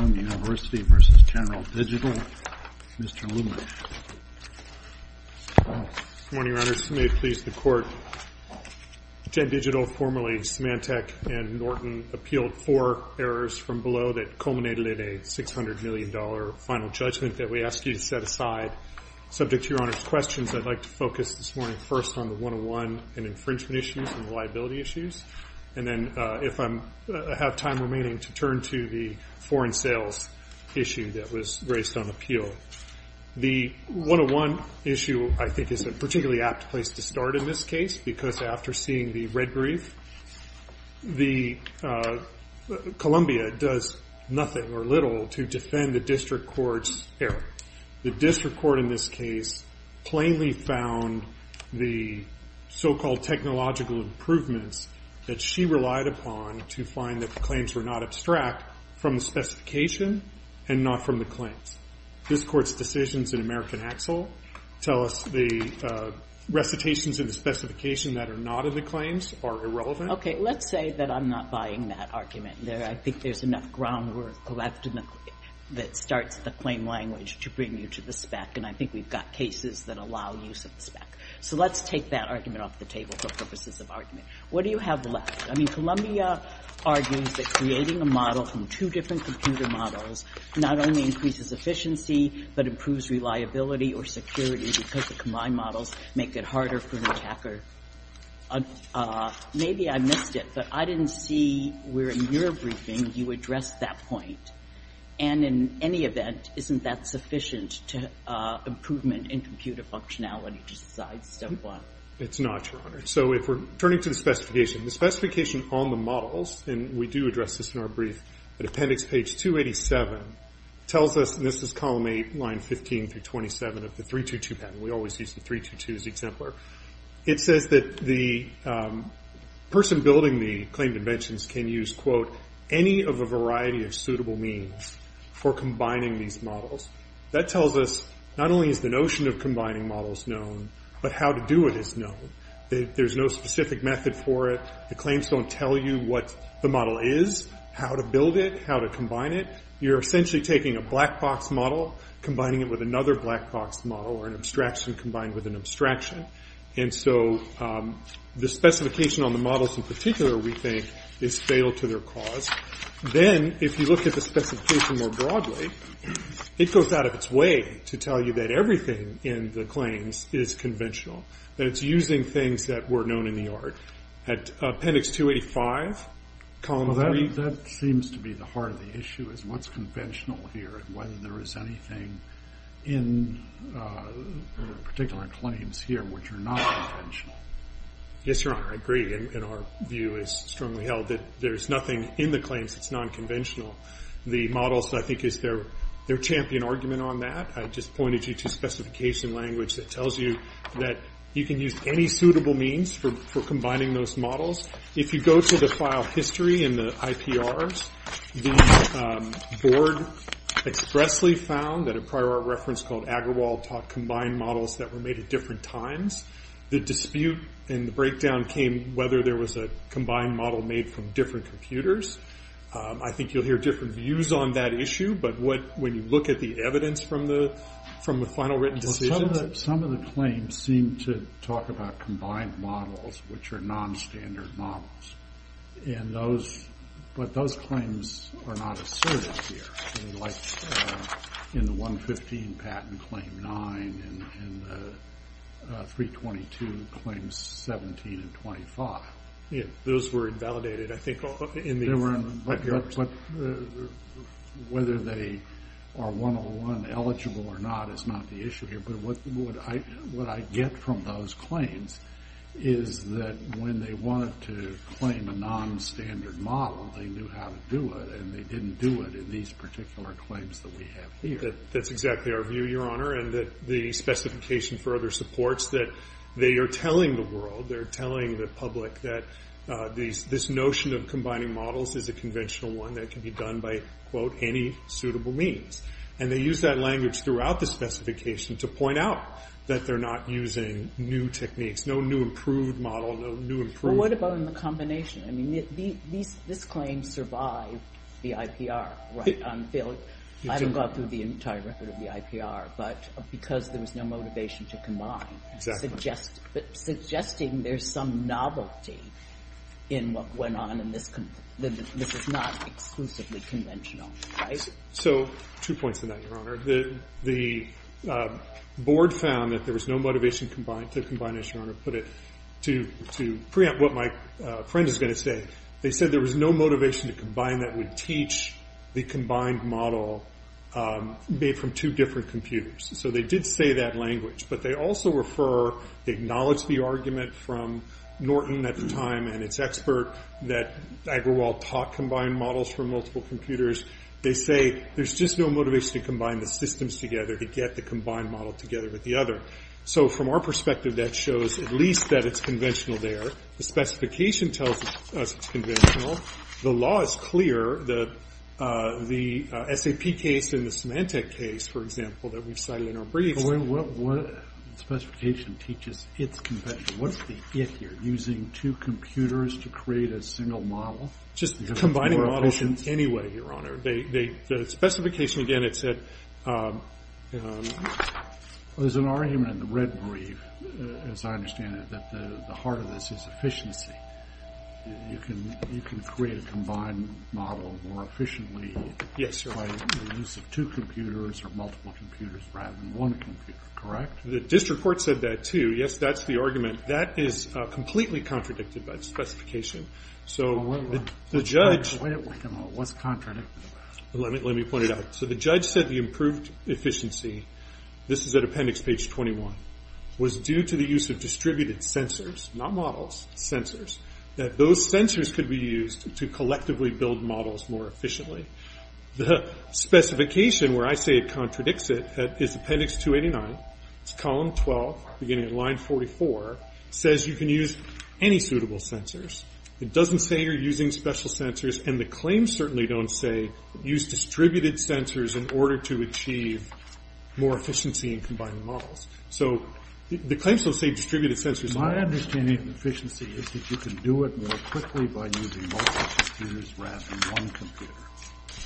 Good morning, Your Honors. May it please the Court, Gen Digital, formerly Symantec and Norton, appealed four errors from below that culminated in a $600 million final judgment that we ask you to set aside. Subject to Your Honor's questions, I'd like to focus this morning first on the 101 and infringement issues and the liability issues, and then if I have time remaining, to turn to the foreign sales issue that was raised on appeal. The 101 issue, I think, is a particularly apt place to start in this case because after seeing the red brief, Columbia does nothing or little to defend the District Court's error. The District Court in this case plainly found the so-called technological improvements that she relied upon to find that the claims were not abstract from the specification and not from the claims. This Court's decisions in American Axel tell us the recitations in the specification that are not in the claims are irrelevant. Okay. Let's say that I'm not buying that argument. I think there's enough groundwork left that starts the claim language to bring you to the spec, and I think we've got cases that allow use of the spec. So let's take that argument off the table for purposes of argument. What do you have left? I mean, Columbia argues that creating a model from two different computer models not only increases efficiency, but improves reliability or security because the combined models make it harder for the attacker. Maybe I missed it, but I didn't see where in your briefing you addressed that point. And in any event, isn't that sufficient to improvement in computer functionality besides step one? It's not, Your Honor. So if we're turning to the specification, the specification on the models, and we do address this in our brief at appendix page 287, tells us, and this is column 8, line 15 through 27 of the 322 patent. We always use the 322 as the exemplar. It says that the person building the claimed inventions can use, quote, any of a variety of suitable means for combining these models. That tells us not only is the notion of combining models known, but how to do it is known. There's no specific method for it. The claims don't tell you what the model is, how to build it, how to combine it. You're essentially taking a black box model, combining it with another black box model, or an abstraction combined with an abstraction. And so the specification on the models in particular, we think, is fatal to their cause. Then, if you look at the specification more broadly, it goes out of its way to tell you that everything in the claims is conventional, that it's using things that were known in the art. At appendix 285, column 3. Well, that seems to be the heart of the issue, is what's conventional here, and whether there is anything in particular claims here which are non-conventional. Yes, Your Honor. I agree, and our view is strongly held that there's nothing in the claims that's non-conventional. The models, I think, is their champion argument on that. I just pointed you to specification language that tells you that you can use any suitable means for combining those models. If you go to the file history in the IPRs, the board expressly found that a prior art reference called Agarwal taught combined models that were made at different times. The dispute and the breakdown came whether there was a combined model made from different computers. I think you'll hear different views on that issue, but when you look at the evidence from the final written decisions... Some of the claims seem to talk about combined models, which are non-standard models, but those claims are not asserted here, like in the 115 patent claim 9 and the 322 claims 17 and 25. Those were invalidated, I think, in the IPRs. Whether they are 101 eligible or not is not the issue here, but what I get from those claims is that when they wanted to claim a non-standard model, they knew how to do it, and they didn't do it in these particular claims that we have here. That's exactly our view, Your Honor, and the specification for other supports that they are telling the world, they are telling the public that this notion of combining models is a conventional one that can be done by, quote, any suitable means, and they use that language throughout the specification to point out that they're not using new techniques, no new improved model, no new improved... What about in the combination? I mean, this claim survived the IPR. I haven't gone through the entire record of the IPR, but because there was no motivation to combine, suggesting there's some novelty in what went on and this is not exclusively conventional, right? So two points on that, Your Honor. The board found that there was no motivation to combine, as Your Honor put it, to preempt what my friend is going to say. They said there was no motivation to combine that would teach the combined model made from two different computers. So they did say that language, but they also refer, they acknowledge the argument from Norton at the time and its expert that Agrawal taught combined models from multiple computers. They say there's just no motivation to combine the systems together to get the combined model together with the other. So from our perspective, that shows at least that it's conventional there. The specification tells us it's conventional. The law is clear. The SAP case and the Symantec case, for example, that we've cited in our briefs... But what specification teaches it's conventional? What's the if here? Using two computers to create a single model? Just combining models anyway, Your Honor. The specification, again, it said... There's an argument in the red brief, as I understand it, that the heart of this is efficiency. You can create a combined model more efficiently by the use of two computers or multiple computers rather than one computer, correct? The district court said that too. Yes, that's the argument. That is completely contradicted by the specification. So the judge... Wait a minute. What's contradicted? Let me point it out. So the judge said the improved efficiency... This is at appendix page 21, was due to the use of distributed sensors, not models, sensors, that those sensors could be used to collectively build models more efficiently. The specification, where I say it contradicts it, is appendix 289, it's column 12 beginning at line 44, says you can use any suitable sensors. It doesn't say you're using special sensors, and the claims certainly don't say use distributed sensors in order to achieve more efficiency in combining models. So the claims don't say distributed sensors... My understanding of efficiency is that you can do it more quickly by using multiple computers rather than one computer.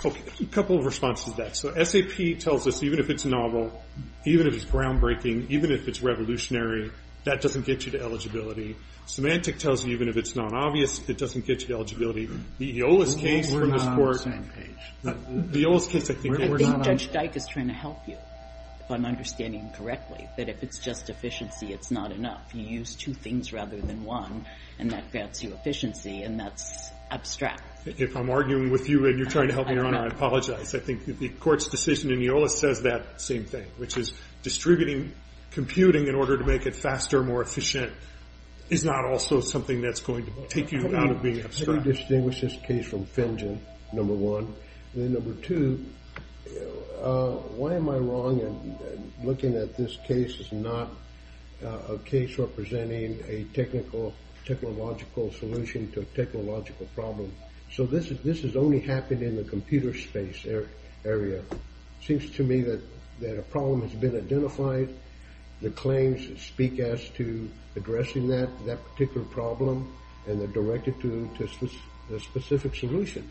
Okay. A couple of responses to that. So SAP tells us even if it's novel, even if it's groundbreaking, even if it's revolutionary, that doesn't get you to eligibility. Symantec tells you even if it's not obvious, it doesn't get you to eligibility. The EOLIS case... We're not on the same page. The EOLIS case, I think... I think Judge Dyke is trying to help you, if I'm understanding correctly, that if it's just efficiency, it's not enough. You use two things rather than one, and that grants you efficiency, and that's abstract. If I'm arguing with you and you're trying to help me or not, I apologize. I think the court's decision in EOLIS says that same thing, which is distributing computing in order to make it faster, more efficient, is not also something that's going to take you out of being abstract. How do you distinguish this case from FinGen, number one? And then number two, why am I wrong in looking at this case as not a case representing a technological solution to a technological problem? So this has only happened in the computer space area. It seems to me that a problem has been identified. The claims speak as to addressing that particular problem, and they're directed to a specific solution.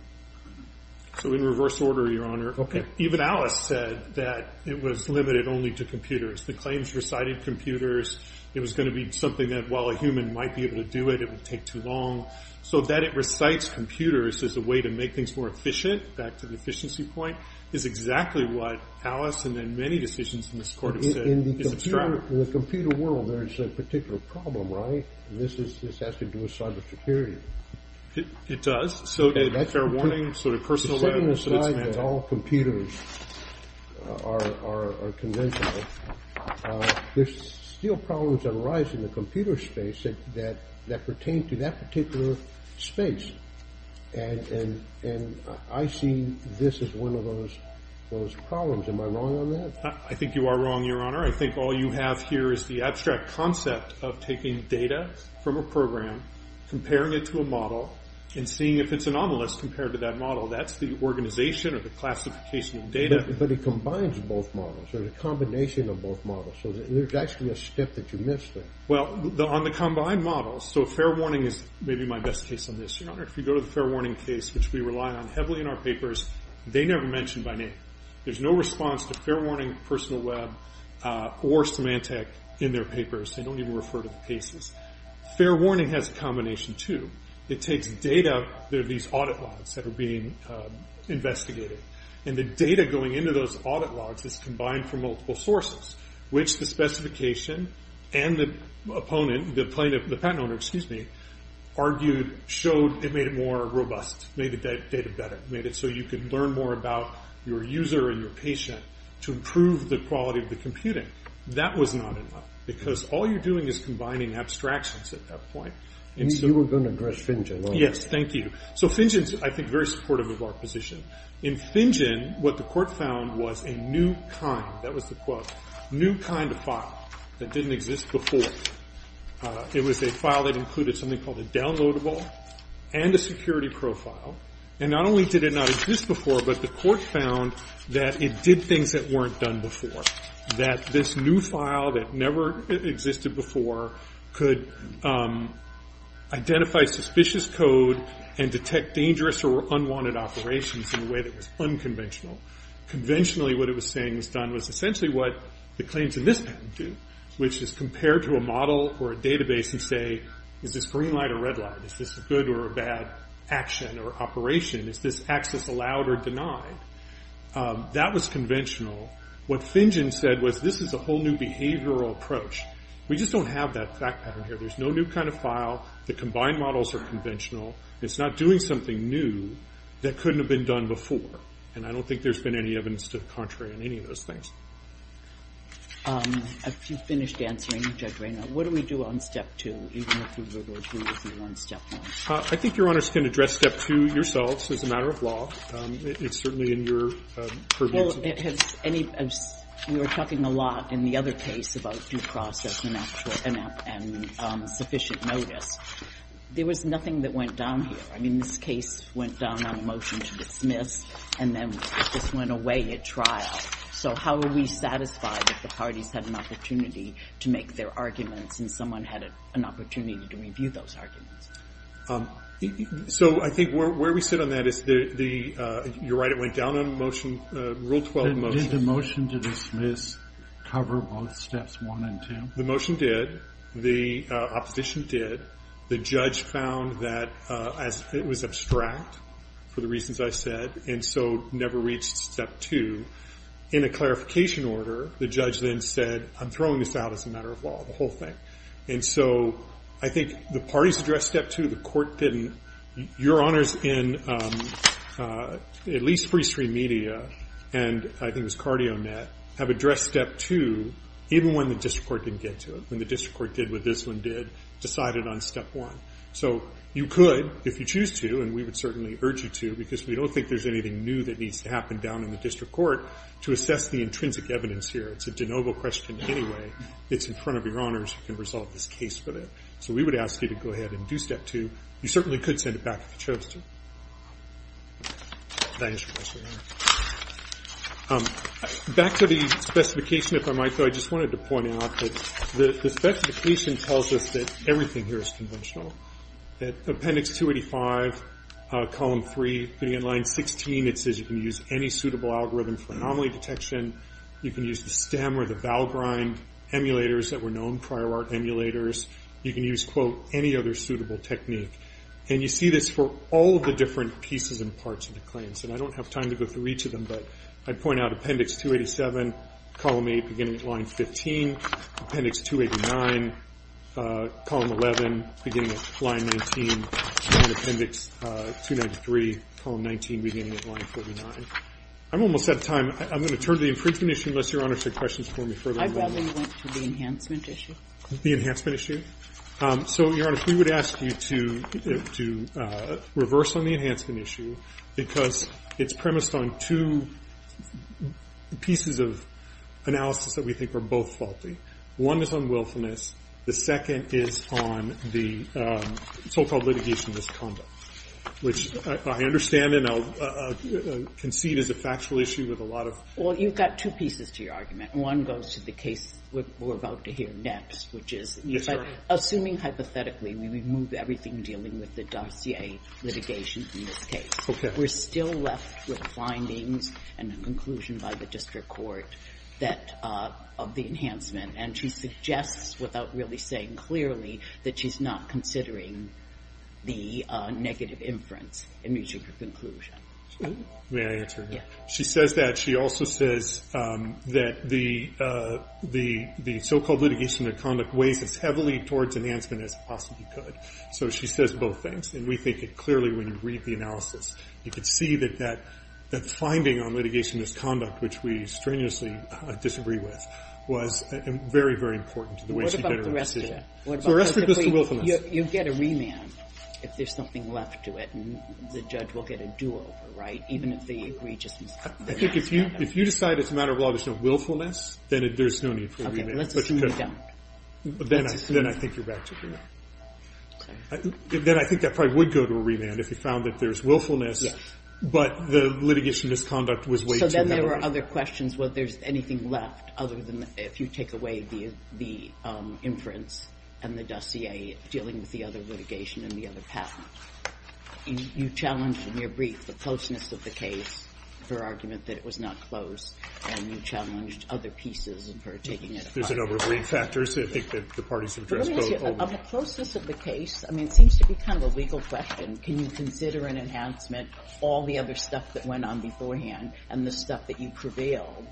So in reverse order, Your Honor. Even EOLIS said that it was limited only to computers. The claims recited computers. It was going to be something that, while a human might be able to do it, it would take too long. So that it recites computers as a way to make things more efficient, back to the efficiency point, is exactly what EOLIS and then many decisions in this court have said is abstract. In the computer world, there's a particular problem, right? This has to do with cybersecurity. It does. So a fair warning, sort of personal letter, so that it's mandatory. Setting aside that all computers are conventional, there's still problems that arise in the computer space that pertain to that particular space. And I see this as one of those problems. Am I wrong on that? I think you are wrong, Your Honor. I think all you have here is the abstract concept of taking data from a program, comparing it to a model, and seeing if it's anomalous compared to that model. That's the organization or the classification of data. But it combines both models. There's a combination of both models. So there's actually a step that you missed there. Well, on the combined models, so fair warning is maybe my best case on this, Your Honor. If you go to the fair warning case, which we rely on heavily in our papers, they never mention by name. There's no response to fair warning, personal web, or Symantec in their papers. They don't even refer to the cases. Fair warning has a combination, too. It takes data. There are these audit logs that are being investigated. And the data going into those audit logs is combined from multiple sources, which the specification and the opponent, the patent owner, excuse me, argued, showed it made it more robust, made the data better, made it so you could learn more about your user and your patient to improve the quality of the computing. That was not enough, because all you're doing is combining abstractions at that point. You were going to address FinGen, weren't you? Yes, thank you. So FinGen is, I think, very supportive of our position. In FinGen, what the court found was a new kind, that was the quote, new kind of file that didn't exist before. It was a file that included something called a downloadable and a security profile. And not only did it not exist before, but the court found that it did things that weren't done before, that this new file that never existed before could identify suspicious code and detect dangerous or unwanted operations in a way that was unconventional. Conventionally, what it was saying was done was essentially what the claims in this patent do, which is compare to a model or a database and say, is this green light or red light? Is this a good or a bad action or operation? Is this access allowed or denied? That was conventional. What FinGen said was, this is a whole new behavioral approach. We just don't have that fact pattern here. There's no new kind of file. The combined models are conventional. It's not doing something new that couldn't have been done before. And I don't think there's been any evidence to the contrary in any of those things. If you've finished answering, Judge Rayner, what do we do on step two, even if we were to agree with you on step one? I think Your Honors can address step two yourselves as a matter of law. It's certainly in your purview. We were talking a lot in the other case about due process and sufficient notice. There was nothing that went down here. I mean, this case went down on a motion to dismiss, and then this went away at trial. So how are we satisfied that the parties had an opportunity to make their arguments and someone had an opportunity to review those arguments? So I think where we sit on that is, you're right, it went down on rule 12 motion. Did the motion to dismiss cover both steps one and two? The motion did. The opposition did. The judge found that it was abstract for the reasons I said, and so never reached step two. In a clarification order, the judge then said, I'm throwing this out as a matter of law, the whole thing. And so I think the parties addressed step two, the court didn't. Your Honors in at least Free Stream Media and I think it was CardioNet have addressed step two, even when the district court didn't get to it, when the district court did what this one did, decided on step one. So you could, if you choose to, and we would certainly urge you to, because we don't think there's anything new that needs to happen down in the district court, to assess the intrinsic evidence here. It's a de novo question anyway. It's in front of your Honors who can resolve this case for them. So we would ask you to go ahead and do step two. You certainly could send it back if you chose to. Back to the specification, if I might, though, I just wanted to point out that the specification tells us that everything here is conventional. Appendix 285, Column 3, Line 16, it says you can use any suitable algorithm for anomaly detection. You can use the stem or the bowel grind emulators that were known, prior art emulators. You can use, quote, any other suitable technique. And you see this for all of the different pieces and parts of the claims. And I don't have time to go through each of them, but I'd point out Appendix 287, Column 8, beginning at Line 15, Appendix 289, Column 11, beginning at Line 19, and Appendix 293, Column 19, beginning at Line 49. I'm almost out of time. I'm going to turn to the infringement issue, unless Your Honor said questions for me further. I probably went to the enhancement issue. The enhancement issue? So, Your Honor, if we would ask you to reverse on the enhancement issue, because it's premised on two pieces of analysis that we think are both faulty. One is on willfulness. The second is on the so-called litigation misconduct, which I understand, and I'll concede is a factual issue with a lot of. Well, you've got two pieces to your argument. One goes to the case we're about to hear next, which is assuming hypothetically we remove everything dealing with the dossier litigation in this case. Okay. We're still left with findings and a conclusion by the district court of the enhancement. And she suggests, without really saying clearly, that she's not considering the negative inference in reaching her conclusion. May I answer that? Yeah. She says that. She also says that the so-called litigation misconduct weighs as heavily towards enhancement as it possibly could. So she says both things. And we think it clearly when you read the analysis. You can see that that finding on litigation misconduct, which we strenuously disagree with, was very, very important to the way she got her decision. So the rest of it goes to willfulness. You get a remand if there's something left to it. And the judge will get a do-over, right, even if they agree just in spite of it. I think if you decide it's a matter of law, there's no willfulness, then there's no need for a remand. Okay. Let's assume you don't. Then I think you're back to a remand. Okay. Then I think that probably would go to a remand if you found that there's willfulness. Yes. But the litigation misconduct was way too heavy. There are other questions. Well, if there's anything left other than if you take away the inference and the dossier dealing with the other litigation and the other patent. You challenged in your brief the closeness of the case, her argument that it was not close. And you challenged other pieces of her taking it apart. There's a number of lead factors that I think that the parties have addressed both. But let me ask you, of the closeness of the case, I mean, it seems to be kind of a legal question. Can you consider an enhancement, all the other stuff that went on beforehand and the stuff that you prevailed?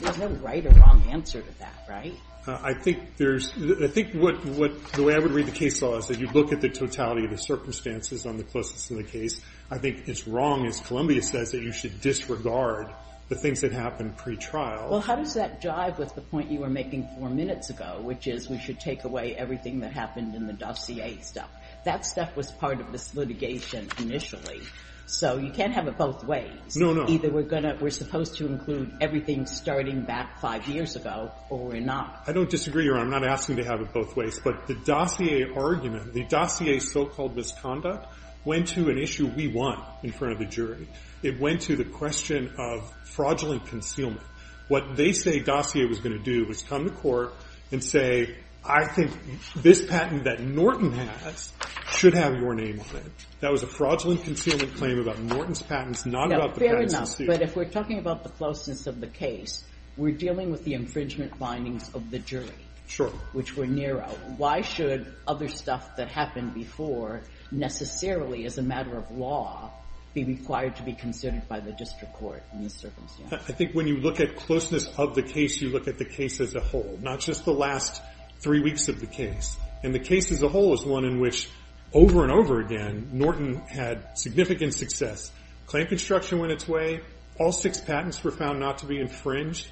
There's no right or wrong answer to that, right? I think there's – I think what – the way I would read the case law is that you look at the totality of the circumstances on the closeness of the case. I think it's wrong, as Columbia says, that you should disregard the things that happened pretrial. Well, how does that jive with the point you were making four minutes ago, which is we should take away everything that happened in the dossier stuff? That stuff was part of this litigation initially. So you can't have it both ways. No, no. Either we're going to – we're supposed to include everything starting back five years ago or we're not. I don't disagree, Your Honor. I'm not asking to have it both ways. But the dossier argument, the dossier so-called misconduct, went to an issue we won in front of the jury. It went to the question of fraudulent concealment. What they say dossier was going to do was come to court and say, I think this patent that Norton has should have your name on it. That was a fraudulent concealment claim about Norton's patents, not about the patent's dispute. But if we're talking about the closeness of the case, we're dealing with the infringement findings of the jury. Sure. Which were narrow. Why should other stuff that happened before necessarily, as a matter of law, be required to be considered by the district court in this circumstance? I think when you look at closeness of the case, you look at the case as a whole, not just the last three weeks of the case. And the case as a whole is one in which, over and over again, Norton had significant success. Claim construction went its way. All six patents were found not to be infringed.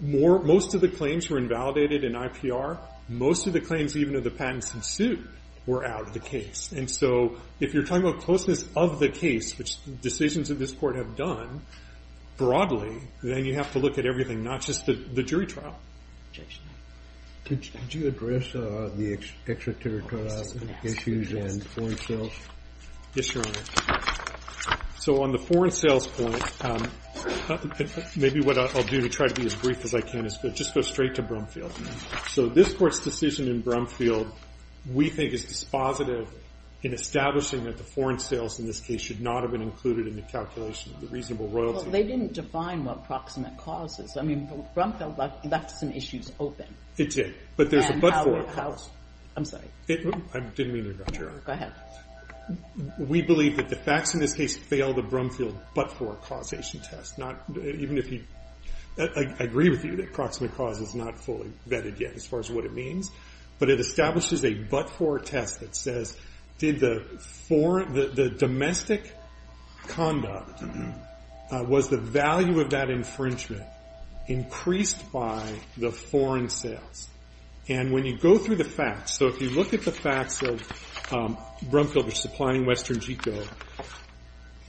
Most of the claims were invalidated in IPR. Most of the claims even of the patents in suit were out of the case. And so if you're talking about closeness of the case, which decisions of this court have done broadly, then you have to look at everything, not just the jury trial. Could you address the extraterritorial issues and foreign sales? Yes, Your Honor. So on the foreign sales point, maybe what I'll do to try to be as brief as I can is just go straight to Brumfield. So this court's decision in Brumfield, we think is dispositive in establishing that the foreign sales in this case should not have been included in the calculation of the reasonable royalty. Well, they didn't define what proximate causes. I mean, Brumfield left some issues open. It did, but there's a but-for. I'm sorry. I didn't mean to interrupt, Your Honor. Go ahead. We believe that the facts in this case fail the Brumfield but-for causation test. I agree with you that proximate cause is not fully vetted yet as far as what it means, but it establishes a but-for test that says, the domestic conduct was the value of that infringement increased by the foreign sales. And when you go through the facts, so if you look at the facts of Brumfield supplying Western Geco,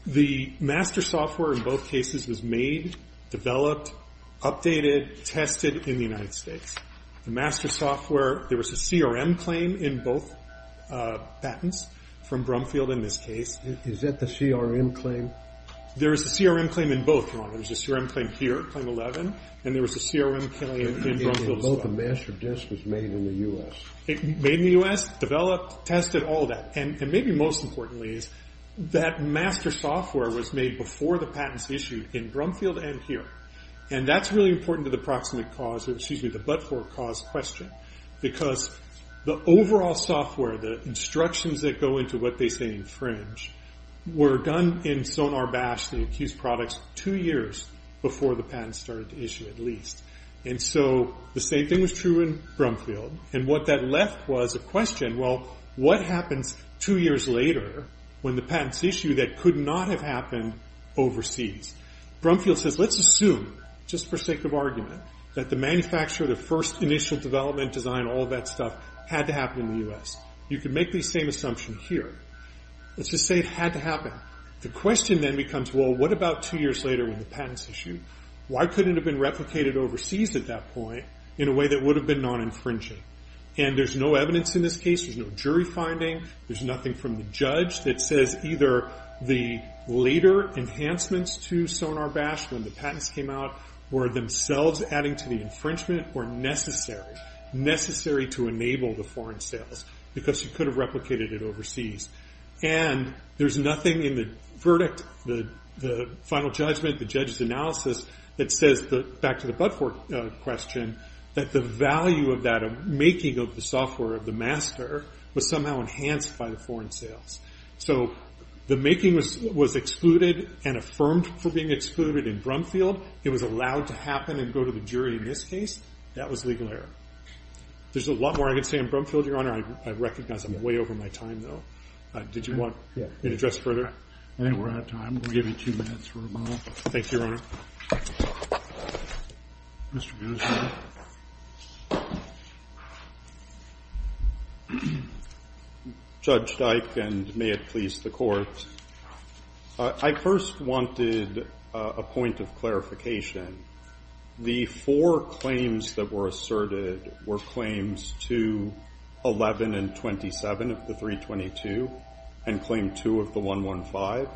the master software in both cases was made, developed, updated, tested in the United States. The master software, there was a CRM claim in both patents from Brumfield in this case. Is that the CRM claim? There is a CRM claim in both, Your Honor. There's a CRM claim here, claim 11, and there was a CRM claim in Brumfield as well. Both the master disk was made in the U.S. Made in the U.S., developed, tested, all of that. And maybe most importantly is that master software was made before the patents issued in Brumfield and here. And that's really important to the but-for cause question, because the overall software, the instructions that go into what they say infringe, were done in Sonar Bash, the accused products, two years before the patents started to issue at least. And so the same thing was true in Brumfield. And what that left was a question, well, what happens two years later when the patents issue that could not have happened overseas? Brumfield says, let's assume, just for sake of argument, that the manufacturer, the first initial development, design, all of that stuff had to happen in the U.S. You can make the same assumption here. Let's just say it had to happen. The question then becomes, well, what about two years later when the patents issued? Why couldn't it have been replicated overseas at that point in a way that would have been non-infringing? And there's no evidence in this case. There's no jury finding. There's nothing from the judge that says either the later enhancements to Sonar Bash when the patents came out were themselves adding to the infringement or necessary, necessary to enable the foreign sales because you could have replicated it overseas. And there's nothing in the verdict, the final judgment, the judge's analysis, that says, back to the but-for question, that the value of that making of the software, of the master, was somehow enhanced by the foreign sales. So the making was excluded and affirmed for being excluded in Brumfield. It was allowed to happen and go to the jury in this case. That was legal error. There's a lot more I could say on Brumfield, Your Honor. I recognize I'm way over my time, though. Did you want an address further? I think we're out of time. We'll give you two minutes for a moment. Thank you, Your Honor. Mr. Guzman. Judge Dike and may it please the Court. I first wanted a point of clarification. The four claims that were asserted were claims to 11 and 27 of the 322 and claim 2 of the 115.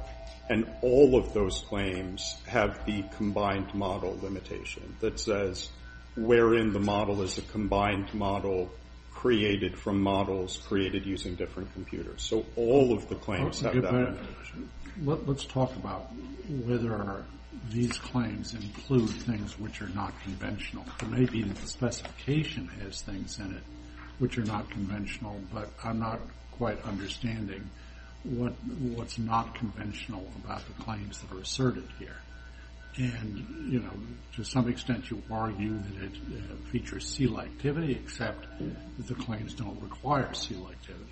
And all of those claims have the combined model limitation that says, wherein the model is a combined model created from models created using different computers. So all of the claims have that limitation. Let's talk about whether these claims include things which are not conventional. It may be that the specification has things in it which are not conventional, but I'm not quite understanding what's not conventional about the claims that are asserted here. And, you know, to some extent you argue that it features seal activity, except the claims don't require seal activity.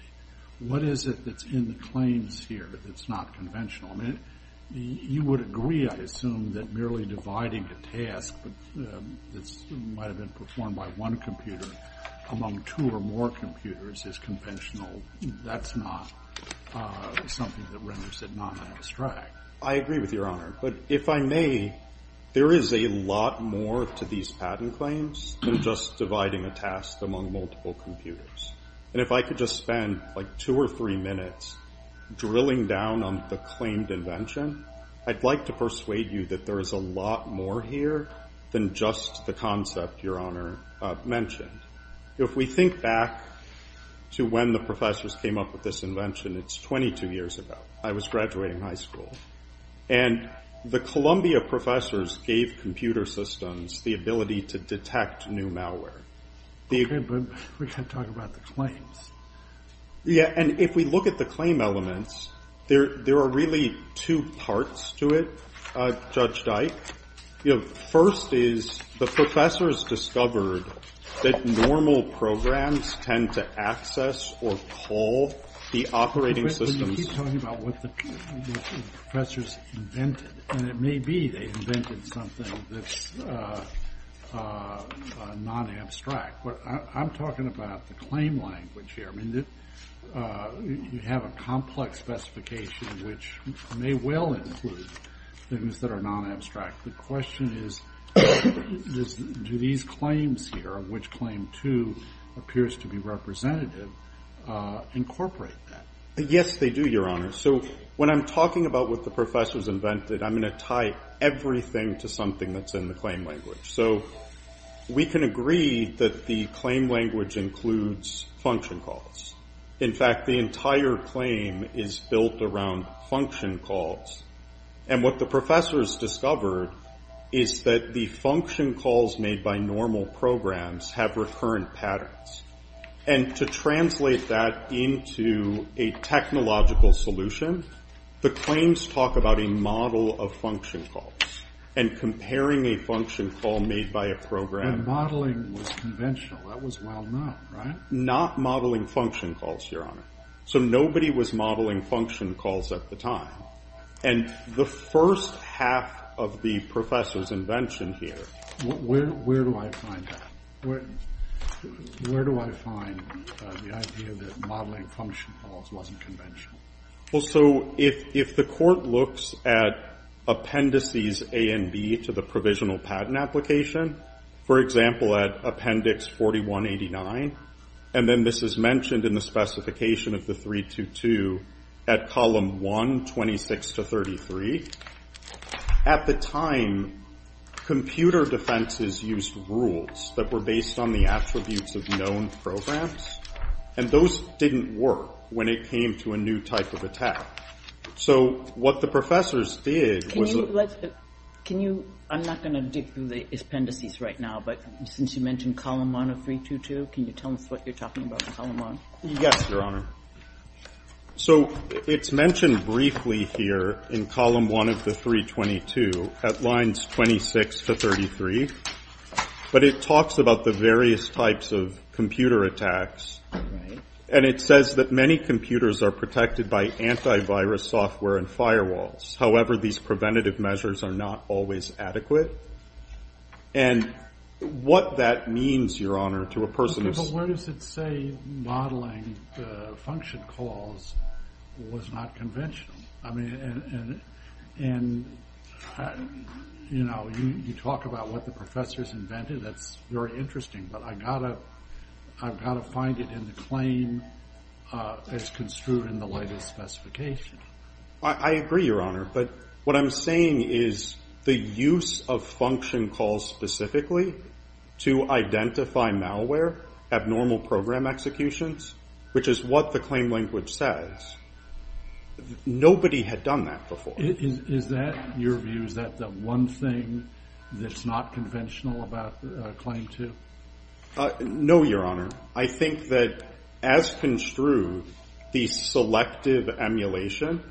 What is it that's in the claims here that's not conventional? You would agree, I assume, that merely dividing a task that might have been performed by one computer among two or more computers is conventional. That's not something that renders it not an abstract. I agree with Your Honor. But if I may, there is a lot more to these patent claims than just dividing a task among multiple computers. And if I could just spend, like, two or three minutes drilling down on the claimed invention, I'd like to persuade you that there is a lot more here than just the concept Your Honor mentioned. If we think back to when the professors came up with this invention, it's 22 years ago. I was graduating high school. And the Columbia professors gave computer systems the ability to detect new malware. Okay, but we can't talk about the claims. Yeah, and if we look at the claim elements, there are really two parts to it, Judge Dike. First is the professors discovered that normal programs tend to access or call the operating systems. But you keep talking about what the professors invented. And it may be they invented something that's non-abstract. I'm talking about the claim language here. I mean, you have a complex specification, which may well include things that are non-abstract. The question is, do these claims here, of which claim two appears to be representative, incorporate that? Yes, they do, Your Honor. So when I'm talking about what the professors invented, I'm going to tie everything to something that's in the claim language. So we can agree that the claim language includes function calls. In fact, the entire claim is built around function calls. And what the professors discovered is that the function calls made by normal programs have recurrent patterns. And to translate that into a technological solution, the claims talk about a model of function calls. And comparing a function call made by a program. But modeling was conventional. That was well known, right? Not modeling function calls, Your Honor. So nobody was modeling function calls at the time. And the first half of the professors' invention here. Where do I find that? Where do I find the idea that modeling function calls wasn't conventional? Well, so if the court looks at appendices A and B to the provisional patent application. For example, at appendix 4189. And then this is mentioned in the specification of the 322 at column 1, 26 to 33. At the time, computer defenses used rules that were based on the attributes of known programs. And those didn't work when it came to a new type of attack. So what the professors did was. Can you, I'm not going to dig through the appendices right now. But since you mentioned column 1 of 322, can you tell us what you're talking about in column 1? Yes, Your Honor. So it's mentioned briefly here in column 1 of the 322 at lines 26 to 33. But it talks about the various types of computer attacks. And it says that many computers are protected by antivirus software and firewalls. However, these preventative measures are not always adequate. And what that means, Your Honor, to a person. But where does it say modeling function calls was not conventional? And, you know, you talk about what the professors invented. That's very interesting. But I've got to find it in the claim as construed in the latest specification. I agree, Your Honor. But what I'm saying is the use of function calls specifically to identify malware, abnormal program executions. Which is what the claim language says. Nobody had done that before. Is that, in your view, is that the one thing that's not conventional about Claim 2? No, Your Honor. I think that as construed, the selective emulation,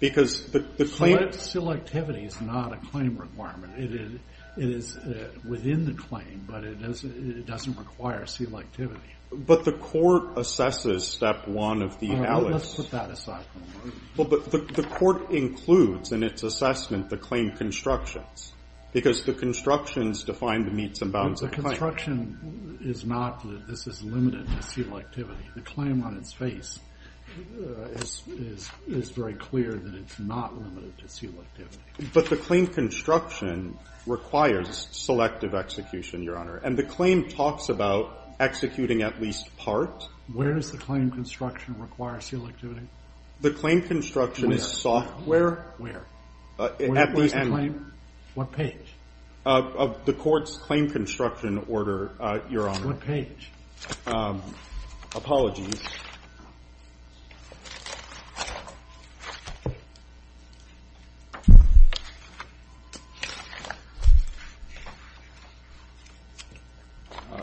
because the claim Selectivity is not a claim requirement. It is within the claim, but it doesn't require selectivity. But the court assesses Step 1 of the Allis. Let's put that aside for a moment. But the court includes in its assessment the claim constructions. Because the constructions define the meets and bounds of the claim. The construction is not that this is limited to selectivity. The claim on its face is very clear that it's not limited to selectivity. But the claim construction requires selective execution, Your Honor. And the claim talks about executing at least part. Where does the claim construction require selectivity? The claim construction is software. Where? At the end. What page? The court's claim construction order, Your Honor. What page? Apologies.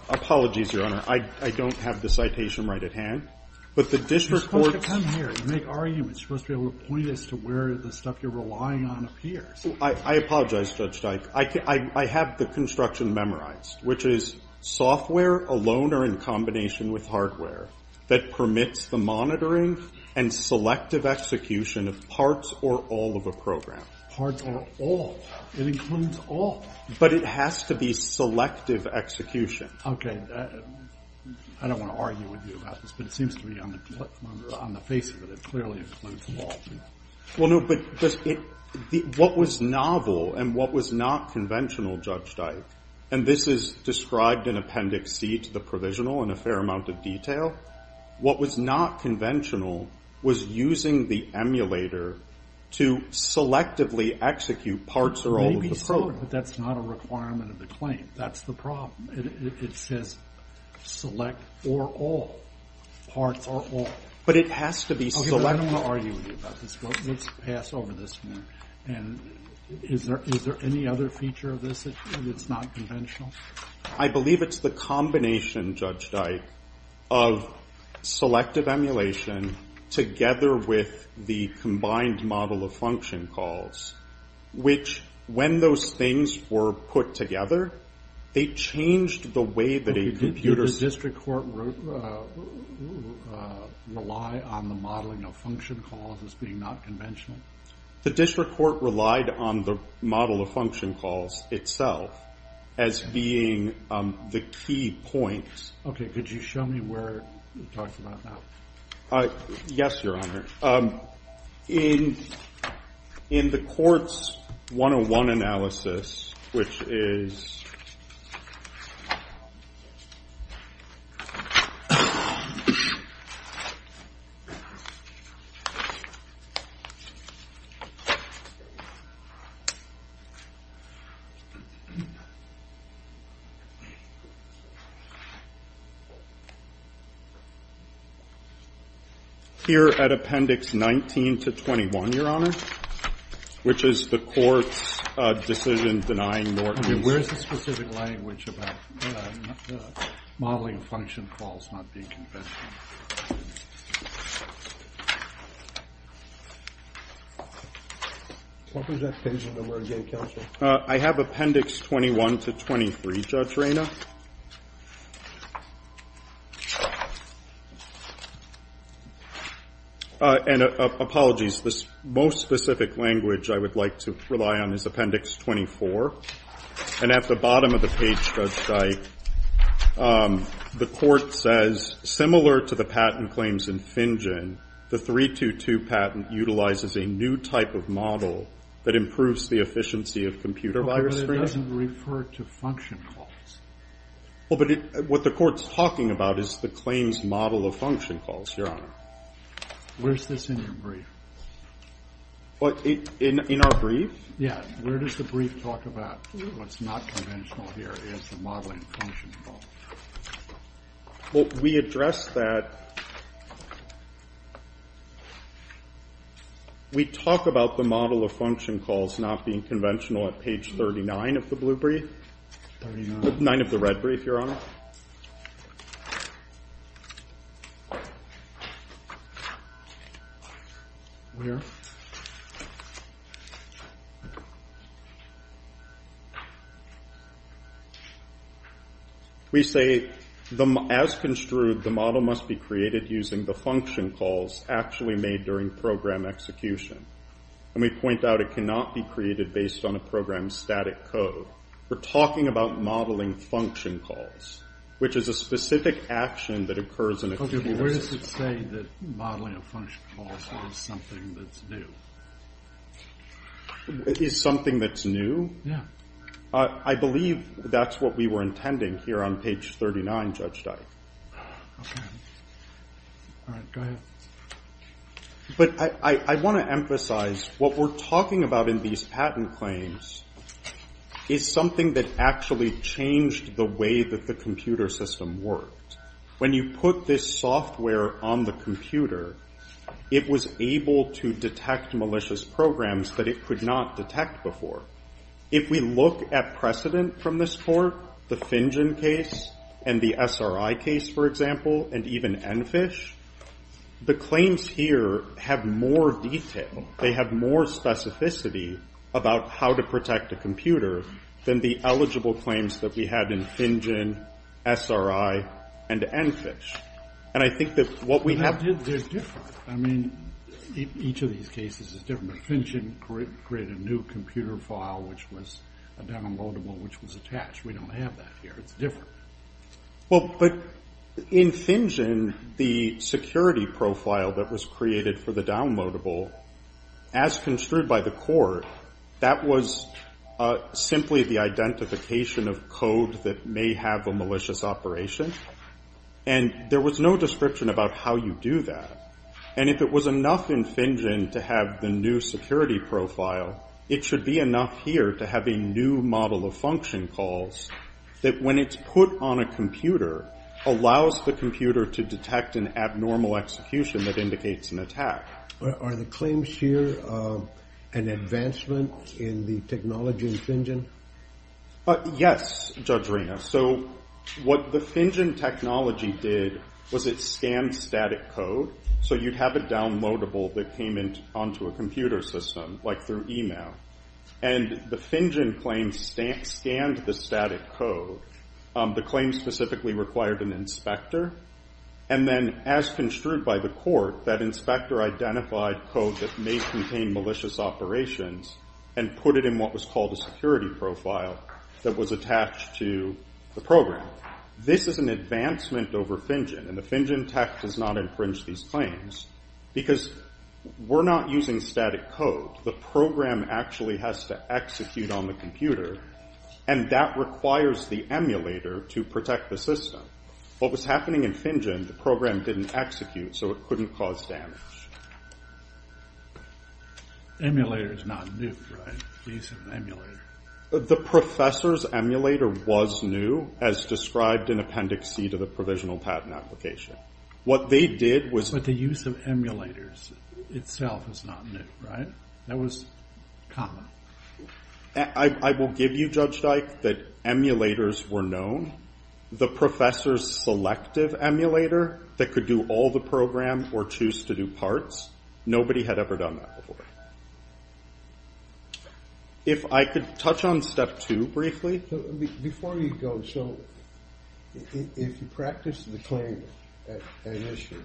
Apologies, Your Honor. I don't have the citation right at hand. But the district court's You're supposed to come here. You make arguments. You're supposed to be able to point as to where the stuff you're relying on appears. I apologize, Judge Dike. I have the construction memorized, which is software alone or in combination with hardware that permits the monitoring and selective execution of parts or all of a program. Parts or all. It includes all. But it has to be selective execution. I don't want to argue with you about this. But it seems to me on the face of it, it clearly includes all. Well, no. But what was novel and what was not conventional, Judge Dike, and this is described in Appendix C to the provisional in a fair amount of detail, what was not conventional was using the emulator to selectively execute parts or all of the program. But that's not a requirement of the claim. That's the problem. It says select or all. Parts or all. But it has to be selective. I don't want to argue with you about this. But let's pass over this one. And is there any other feature of this that's not conventional? I believe it's the combination, Judge Dike, of selective emulation together with the combined model of function calls, which when those things were put together, they changed the way that a computer... Did the district court rely on the modeling of function calls as being not conventional? The district court relied on the model of function calls itself as being the key point. Okay. Could you show me where it talks about that? Yes, Your Honor. In the court's 101 analysis, which is... Here at Appendix 19 to 21, Your Honor, which is the court's decision denying Norton's... Where is the specific language about the modeling of function calls not being conventional? What was that page under where it gave counsel? I have Appendix 21 to 23, Judge Rayner. And apologies. The most specific language I would like to rely on is Appendix 24. And at the bottom of the page, Judge Dike, the court says, similar to the patent claims in Finjen, the 322 patent utilizes a new type of model that improves the efficiency of computer virus screening. That doesn't refer to function calls. Well, but what the court's talking about is the claims model of function calls, Your Honor. Where's this in your brief? In our brief? Yeah. Where does the brief talk about what's not conventional here is the modeling of function calls? Well, we address that... We talk about the model of function calls not being conventional at page 39 of the blue brief. 39? Nine of the red brief, Your Honor. Where? We say, as construed, the model must be created using the function calls actually made during program execution. And we point out it cannot be created based on a program's static code. We're talking about modeling function calls, which is a specific action that occurs in a computer system. Okay. Where does it say that modeling of function calls is something that's new? Is something that's new? Yeah. I believe that's what we were intending here on page 39, Judge Dike. Okay. All right. Go ahead. But I want to emphasize what we're talking about in these patent claims is something that actually changed the way that the computer system worked. When you put this software on the computer, it was able to detect malicious programs that it could not detect before. If we look at precedent from this court, the FinGen case and the SRI case, for example, and even ENFISH, the claims here have more detail. They have more specificity about how to protect a computer than the eligible claims that we had in FinGen, SRI, and ENFISH. And I think that what we have – They're different. I mean, each of these cases is different. But FinGen created a new computer file, which was a downloadable, which was attached. We don't have that here. It's different. Well, but in FinGen, the security profile that was created for the downloadable, as construed by the court, that was simply the identification of code that may have a malicious operation. And there was no description about how you do that. And if it was enough in FinGen to have the new security profile, it should be enough here to have a new model of function calls that, when it's put on a computer, allows the computer to detect an abnormal execution that indicates an attack. Are the claims here an advancement in the technology in FinGen? Yes, Judge Rina. So what the FinGen technology did was it scanned static code. So you'd have a downloadable that came onto a computer system, like through email. And the FinGen claims scanned the static code. The claims specifically required an inspector. And then, as construed by the court, that inspector identified code that may contain malicious operations and put it in what was called a security profile that was attached to the program. This is an advancement over FinGen. And the FinGen tech does not infringe these claims because we're not using static code. The program actually has to execute on the computer. And that requires the emulator to protect the system. What was happening in FinGen, the program didn't execute, so it couldn't cause damage. Emulator is not new, right? The use of an emulator. The professor's emulator was new, as described in Appendix C to the Provisional Patent Application. What they did was... But the use of emulators itself is not new, right? That was common. I will give you, Judge Dyke, that emulators were known. The professor's selective emulator that could do all the programs or choose to do parts. Nobody had ever done that before. If I could touch on Step 2, briefly. Before you go, so... If you practice the claim, an issue...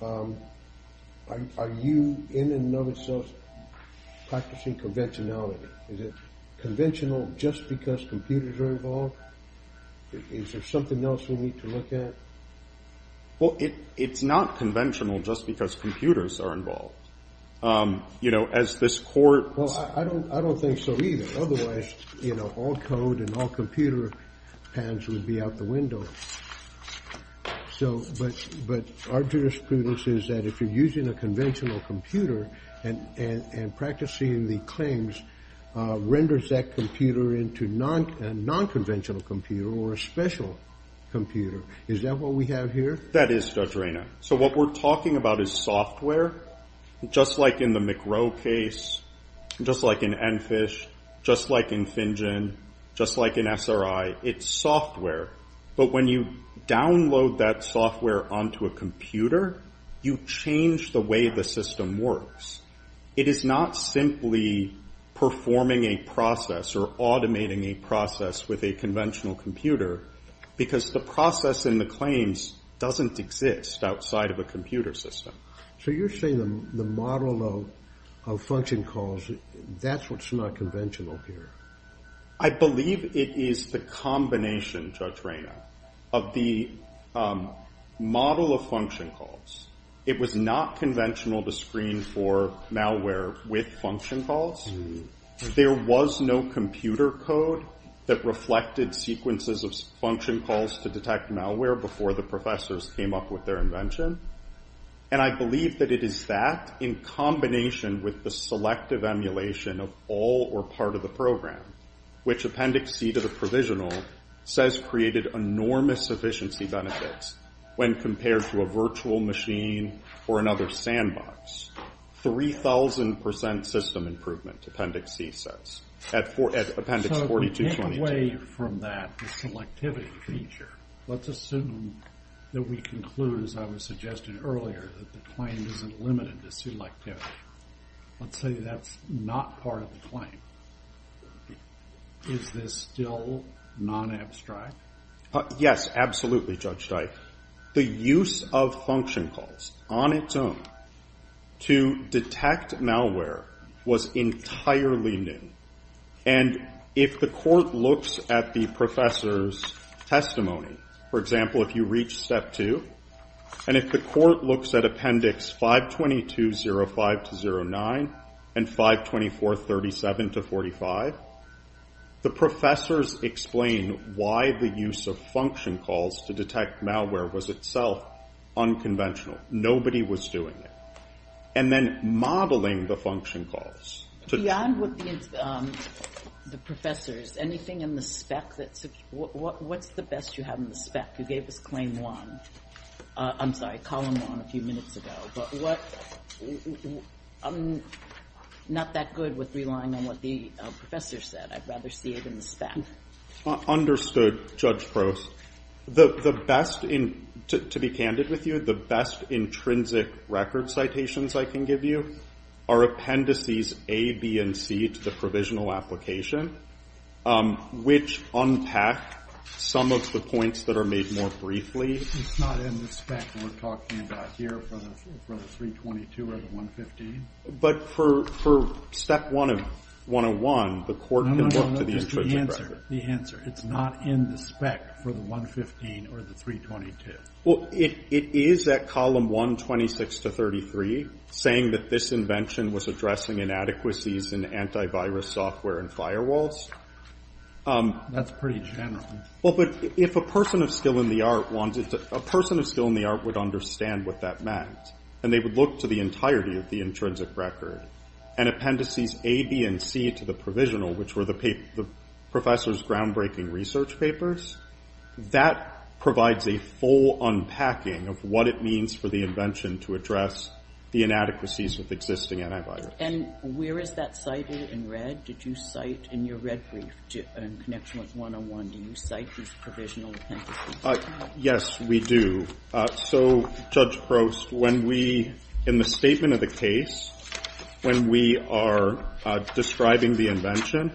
Are you, in and of itself, practicing conventionality? Is it conventional just because computers are involved? Is there something else we need to look at? Well, it's not conventional just because computers are involved. You know, as this Court... Well, I don't think so either. Otherwise, you know, all code and all computer patents would be out the window. So, but our jurisprudence is that if you're using a conventional computer and practicing the claims, renders that computer into a non-conventional computer or a special computer. Is that what we have here? That is, Judge Reyna. So what we're talking about is software. Just like in the McRow case. Just like in EnFish. Just like in FinGen. Just like in SRI. It's software. But when you download that software onto a computer, you change the way the system works. It is not simply performing a process or automating a process with a conventional computer. Because the process in the claims doesn't exist outside of a computer system. So you're saying the model of function calls, that's what's not conventional here. I believe it is the combination, Judge Reyna, of the model of function calls. It was not conventional to screen for malware with function calls. There was no computer code that reflected sequences of function calls to detect malware before the professors came up with their invention. And I believe that it is that in combination with the selective emulation of all or part of the program, which Appendix C to the provisional says created enormous efficiency benefits when compared to a virtual machine or another sandbox. 3,000% system improvement, Appendix C says, at Appendix 42.22. So to get away from that selectivity feature, let's assume that we conclude, as I was suggesting earlier, that the claim isn't limited to selectivity. Let's say that's not part of the claim. Is this still non-abstract? Yes, absolutely, Judge Dike. The use of function calls on its own to detect malware was entirely new. And if the court looks at the professor's testimony, for example, if you reach Step 2, and if the court looks at Appendix 522.05-09 and 524.37-45, the professors explain why the use of function calls to detect malware was itself unconventional. Nobody was doing it. And then modeling the function calls. Beyond what the professors, anything in the spec? What's the best you have in the spec? You gave us Claim 1. I'm sorry, Column 1 a few minutes ago. I'm not that good with relying on what the professor said. I'd rather see it in the spec. Understood, Judge Prost. To be candid with you, the best intrinsic record citations I can give you are appendices A, B, and C to the provisional application, which unpack some of the points that are made more briefly. It's not in the spec we're talking about here for the 322 or the 115? But for Step 1 of 101, the court can look to the intrinsic record. No, no, no, just the answer. The answer. It's not in the spec for the 115 or the 322. Well, it is at Column 1, 26 to 33, saying that this invention was addressing inadequacies in antivirus software and firewalls. That's pretty general. Well, but if a person of skill in the art would understand what that meant and they would look to the entirety of the intrinsic record and appendices A, B, and C to the provisional, which were the professor's groundbreaking research papers, that provides a full unpacking of what it means for the invention to address the inadequacies with existing antivirus. And where is that cited in red? Did you cite in your red brief in connection with 101, do you cite these provisional appendices? Yes, we do. So, Judge Prost, when we, in the statement of the case, when we are describing the invention,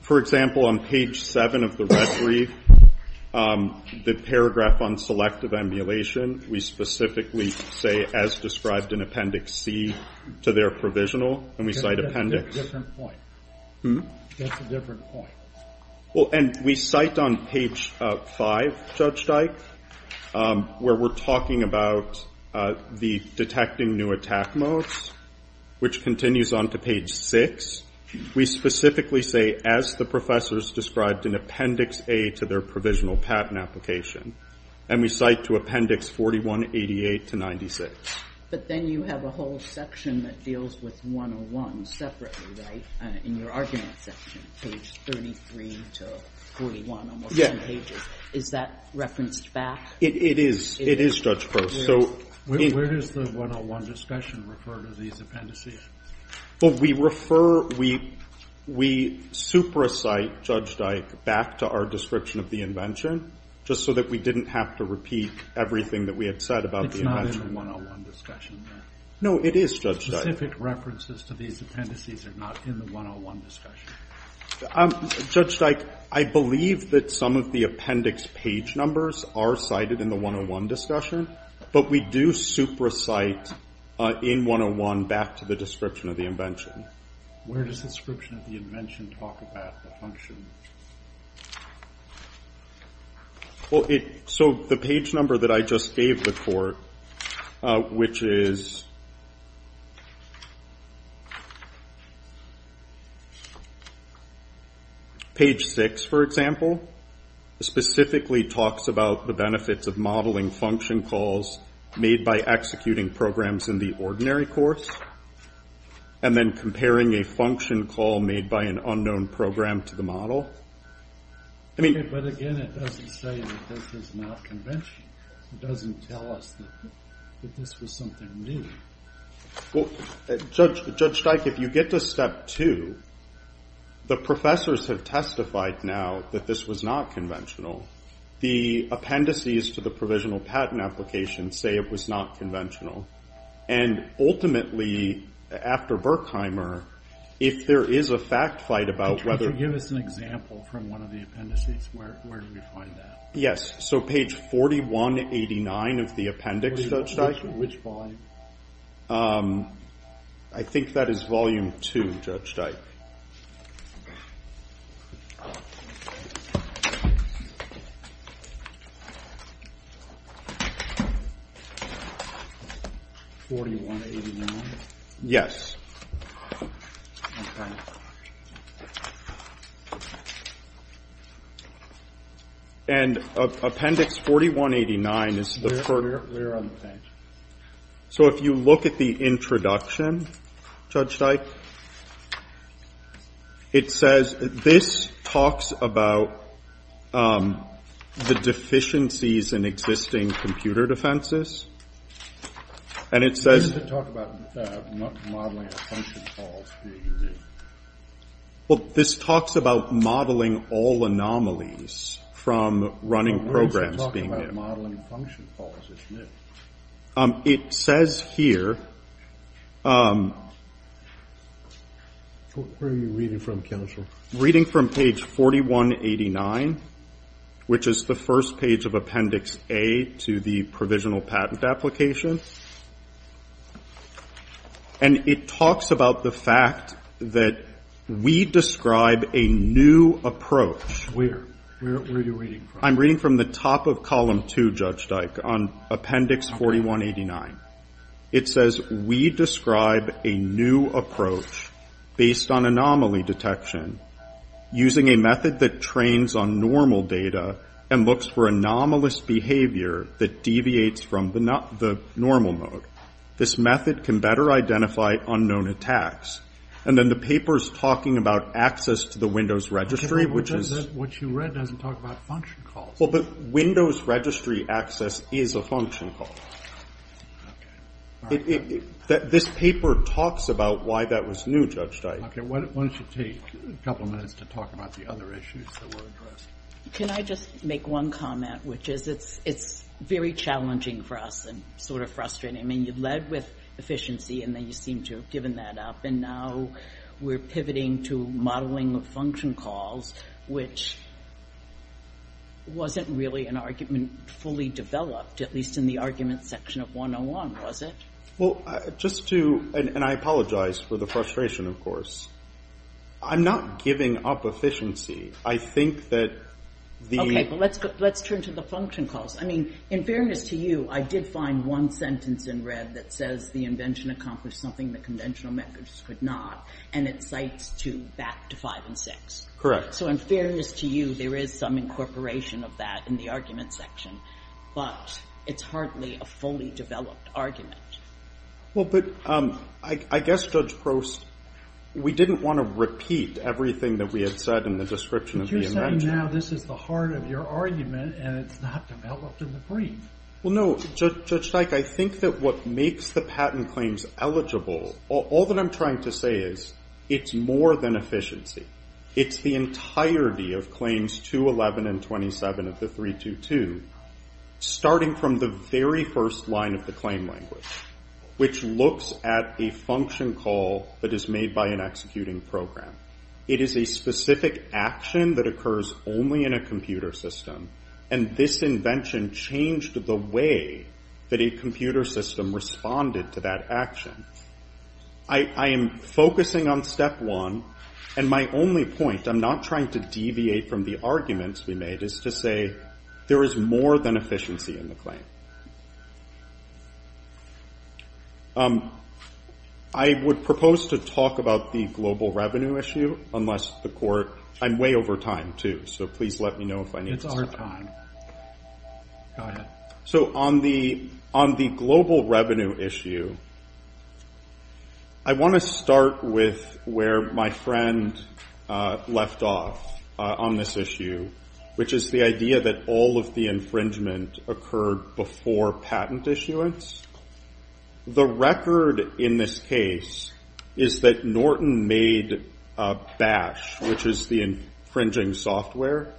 for example, on page 7 of the red brief, the paragraph on selective emulation, we specifically say, as described in Appendix C to their provisional, and we cite appendix... That's a different point. Hmm? That's a different point. Well, and we cite on page 5, Judge Dyke, where we're talking about the detecting new attack modes, which continues on to page 6. We specifically say, as the professors described in Appendix A to their provisional patent application, and we cite to appendix 4188 to 96. But then you have a whole section that deals with 101 separately, right, in your argument section, page 33 to 41, almost 10 pages. Is that referenced back? It is. It is, Judge Prost. Where does the 101 discussion refer to these appendices? Well, we refer, we supersite, Judge Dyke, back to our description of the invention, just so that we didn't have to repeat everything that we had said about the invention. It's not in the 101 discussion. No, it is, Judge Dyke. Specific references to these appendices are not in the 101 discussion. Judge Dyke, I believe that some of the appendix page numbers are cited in the 101 discussion, but we do supersite in 101 back to the description of the invention. Where does the description of the invention talk about the function? Well, so the page number that I just gave the court, which is page 6, for example, specifically talks about the benefits of modeling function calls made by executing programs in the ordinary course, and then comparing a function call made by an unknown program to the model. But again, it doesn't say that this is not conventional. It doesn't tell us that this was something new. Judge Dyke, if you get to step two, the professors have testified now that this was not conventional. The appendices to the provisional patent application say it was not conventional. And ultimately, after Berkheimer, if there is a fact fight about whether- Could you give us an example from one of the appendices? Where do we find that? Yes. So page 4189 of the appendix, Judge Dyke. Which volume? I think that is volume two, Judge Dyke. 4189? Yes. And appendix 4189 is the- Where are the appendices? So if you look at the introduction, Judge Dyke, Where are the appendices? So if you look at the introduction, Judge Dyke, appendix 4189 is the- It says this talks about the deficiencies in existing computer defenses. And it says- It doesn't talk about not modeling function calls being new. Well, this talks about modeling all anomalies from running programs being new. Well, where does it talk about modeling function calls as new? It says here, Where are you reading from, counsel? Reading from page 4189, which is the first page of appendix A to the provisional patent application. And it talks about the fact that we describe a new approach. Where? Where are you reading from? I'm reading from the top of column two, Judge Dyke, on appendix 4189. It says, We describe a new approach based on anomaly detection using a method that trains on normal data and looks for anomalous behavior that deviates from the normal mode. This method can better identify unknown attacks. And then the paper's talking about access to the Windows registry, which is- What you read doesn't talk about function calls. Well, but Windows registry access is a function call. Okay. This paper talks about why that was new, Judge Dyke. Okay, why don't you take a couple minutes to talk about the other issues that were addressed. Can I just make one comment, which is it's very challenging for us and sort of frustrating. I mean, you've led with efficiency, and then you seem to have given that up, and now we're pivoting to modeling of function calls, which wasn't really an argument fully developed, at least in the argument section of 101, was it? Well, just to- and I apologize for the frustration, of course. I'm not giving up efficiency. I think that the- Okay, but let's turn to the function calls. I mean, in fairness to you, I did find one sentence in red that says the invention accomplished something that conventional methods could not, and it cites to back to 5 and 6. Correct. So in fairness to you, there is some incorporation of that in the argument section. But it's hardly a fully developed argument. Well, but I guess, Judge Prost, we didn't want to repeat everything that we had said in the description of the invention. But you're saying now this is the heart of your argument, and it's not developed in the brief. Well, no, Judge Dyke, I think that what makes the patent claims eligible, all that I'm trying to say is it's more than efficiency. It's the entirety of claims 211 and 27 of the 322, starting from the very first line of the claim language, which looks at a function call that is made by an executing program. It is a specific action that occurs only in a computer system, and this invention changed the way that a computer system responded to that action. I am focusing on step one, and my only point, I'm not trying to deviate from the arguments we made, is to say there is more than efficiency in the claim. I would propose to talk about the global revenue issue, unless the court... I'm way over time, too, so please let me know if I need to stop. It's our time. Go ahead. So on the global revenue issue, I want to start with where my friend left off on this issue, which is the idea that all of the infringement occurred before patent issuance. The record in this case is that Norton made Bash, which is the infringing software.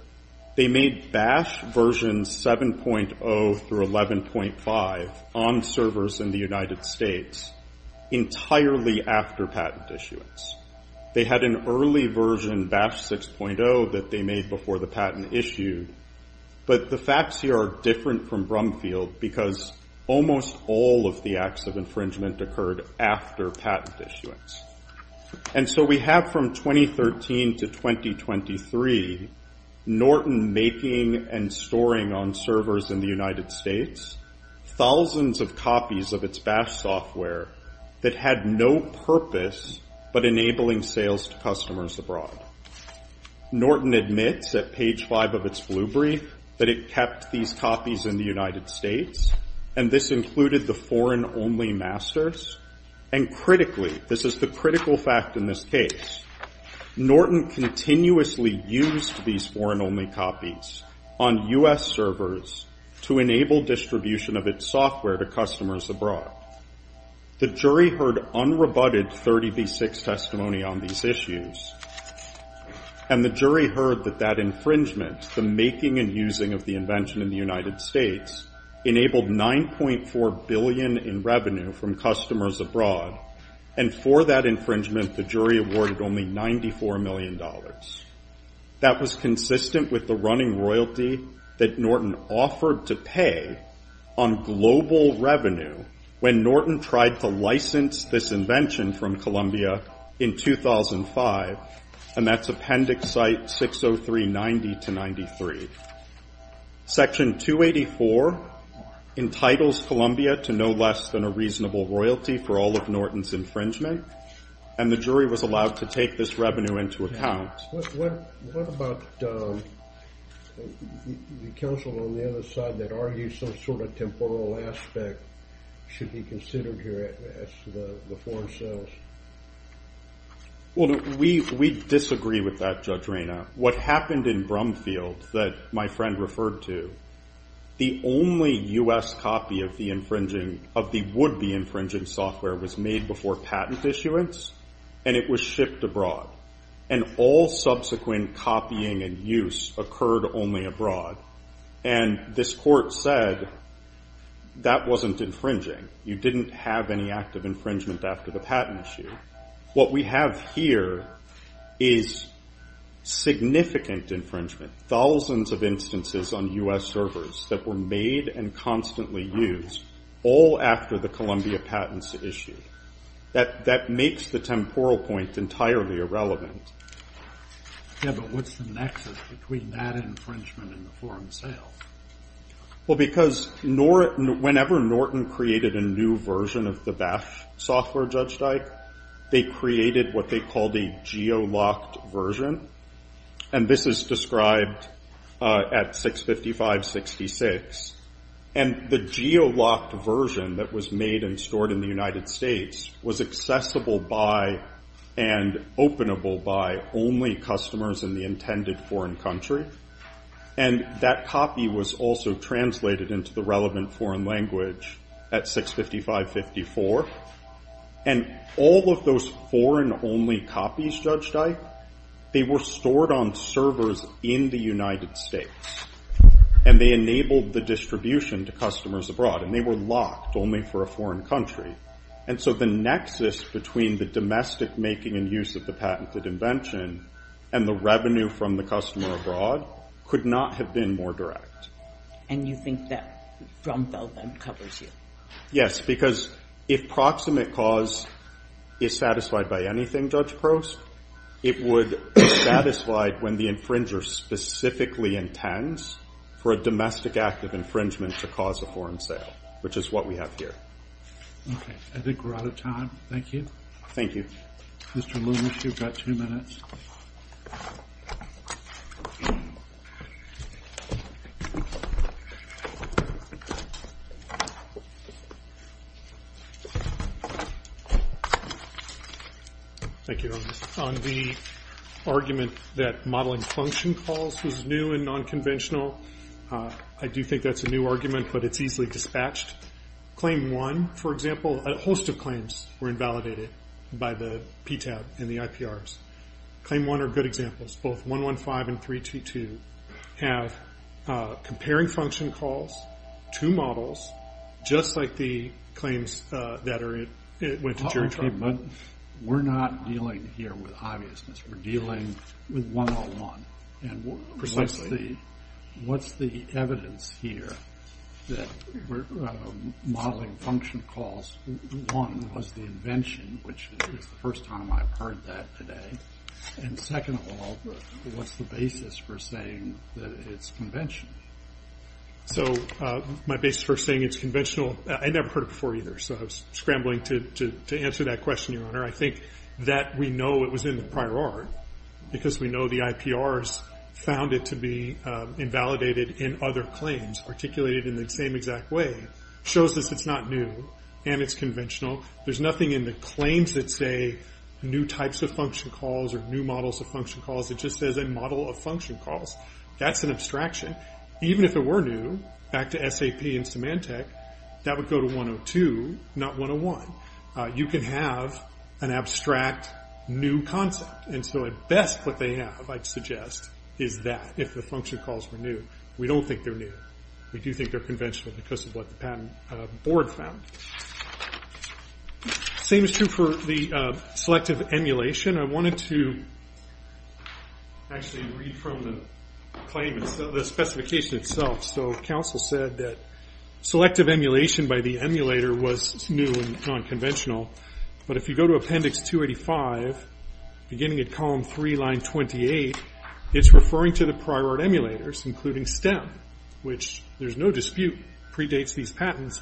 They made Bash version 7.0 through 11.5 on servers in the United States entirely after patent issuance. They had an early version, Bash 6.0, that they made before the patent issued, but the facts here are different from Brumfield because almost all of the acts of infringement occurred after patent issuance. And so we have from 2013 to 2023, Norton making and storing on servers in the United States thousands of copies of its Bash software that had no purpose but enabling sales to customers abroad. Norton admits at page five of its blue brief that it kept these copies in the United States, and this included the foreign-only masters, and critically, this is the critical fact in this case, Norton continuously used these foreign-only copies on U.S. servers to enable distribution of its software to customers abroad. The jury heard unrebutted 30B6 testimony on these issues, and the jury heard that that infringement, the making and using of the invention in the United States, enabled $9.4 billion in revenue from customers abroad, and for that infringement, the jury awarded only $94 million. That was consistent with the running royalty that Norton offered to pay on global revenue when Norton tried to license this invention from Columbia in 2005, and that's Appendix Site 60390-93. Section 284 entitles Columbia to no less than a reasonable royalty for all of Norton's infringement, and the jury was allowed to take this revenue into account. What about the counsel on the other side that argues some sort of temporal aspect should be considered here as to the foreign sales? Well, we disagree with that, Judge Raina. What happened in Brumfield that my friend referred to, the only U.S. copy of the infringing, of the would-be infringing software was made before patent issuance, and it was shipped abroad, and all subsequent copying and use occurred only abroad, and this court said that wasn't infringing. You didn't have any active infringement after the patent issue. What we have here is significant infringement, thousands of instances on U.S. servers that were made and constantly used all after the Columbia patents issue. That makes the temporal point entirely irrelevant. Yeah, but what's the nexus between that infringement and the foreign sales? Well, because whenever Norton created a new version of the BAF software, Judge Dyke, they created what they called a geo-locked version, and this is described at 655-66, and the geo-locked version that was made and stored in the United States was accessible by and openable by only customers in the intended foreign country, and that copy was also translated into the relevant foreign language at 655-54, and all of those foreign-only copies, Judge Dyke, they were stored on servers in the United States, and they enabled the distribution to customers abroad, and they were locked only for a foreign country, and so the nexus between the domestic making and use of the patented invention and the revenue from the customer abroad could not have been more direct. And you think that drum bell then covers you? Yes, because if proximate cause is satisfied by anything, Judge Prost, it would be satisfied when the infringer specifically intends for a domestic act of infringement to cause a foreign sale, which is what we have here. Okay, I think we're out of time. Thank you. Thank you. Mr. Lewis, you've got two minutes. Thank you, Ernest. On the argument that modeling function calls was new and nonconventional, I do think that's a new argument, but it's easily dispatched. Claim 1, for example, a host of claims were invalidated by the PTAB and the IPRs. Claim 1 are good examples. Both 115 and 322 have comparing function calls to models, just like the claims that went to Jericho. Okay, but we're not dealing here with obviousness. We're dealing with 101. Precisely. And what's the evidence here that modeling function calls, one, was the invention, which is the first time I've heard that today. And second of all, what's the basis for saying that it's conventional? So my basis for saying it's conventional, I never heard it before either, so I'm scrambling to answer that question, Your Honor. I think that we know it was in the prior art because we know the IPRs found it to be invalidated in other claims, articulated in the same exact way. Shows us it's not new and it's conventional. There's nothing in the claims that say new types of function calls or new models of function calls. It just says a model of function calls. That's an abstraction. Even if it were new, back to SAP and Symantec, that would go to 102, not 101. You can have an abstract new concept. And so at best, what they have, I'd suggest, is that, if the function calls were new. We don't think they're new. We do think they're conventional because of what the patent board found. Same is true for the selective emulation. I wanted to actually read from the claim, the specification itself. So counsel said that selective emulation by the emulator was new and non-conventional. But if you go to appendix 285, beginning at column 3, line 28, it's referring to the prior art emulators, including STEM. Which, there's no dispute, predates these patents.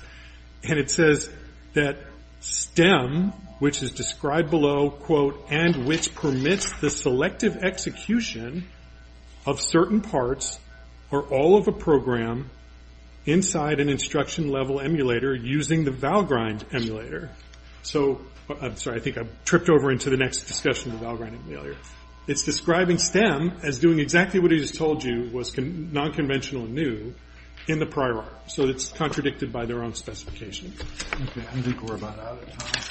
And it says that STEM, which is described below, and which permits the selective execution of certain parts or all of a program inside an instruction level emulator using the Valgrind emulator. So, I'm sorry, I think I've tripped over into the next discussion of the Valgrind emulator. It's describing STEM as doing exactly what it has told you was non-conventional and new in the prior art. So it's contradicted by their own specification. Okay, I think we're about out of time.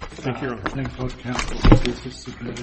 Thank you, Your Honor. Thank you both counsel.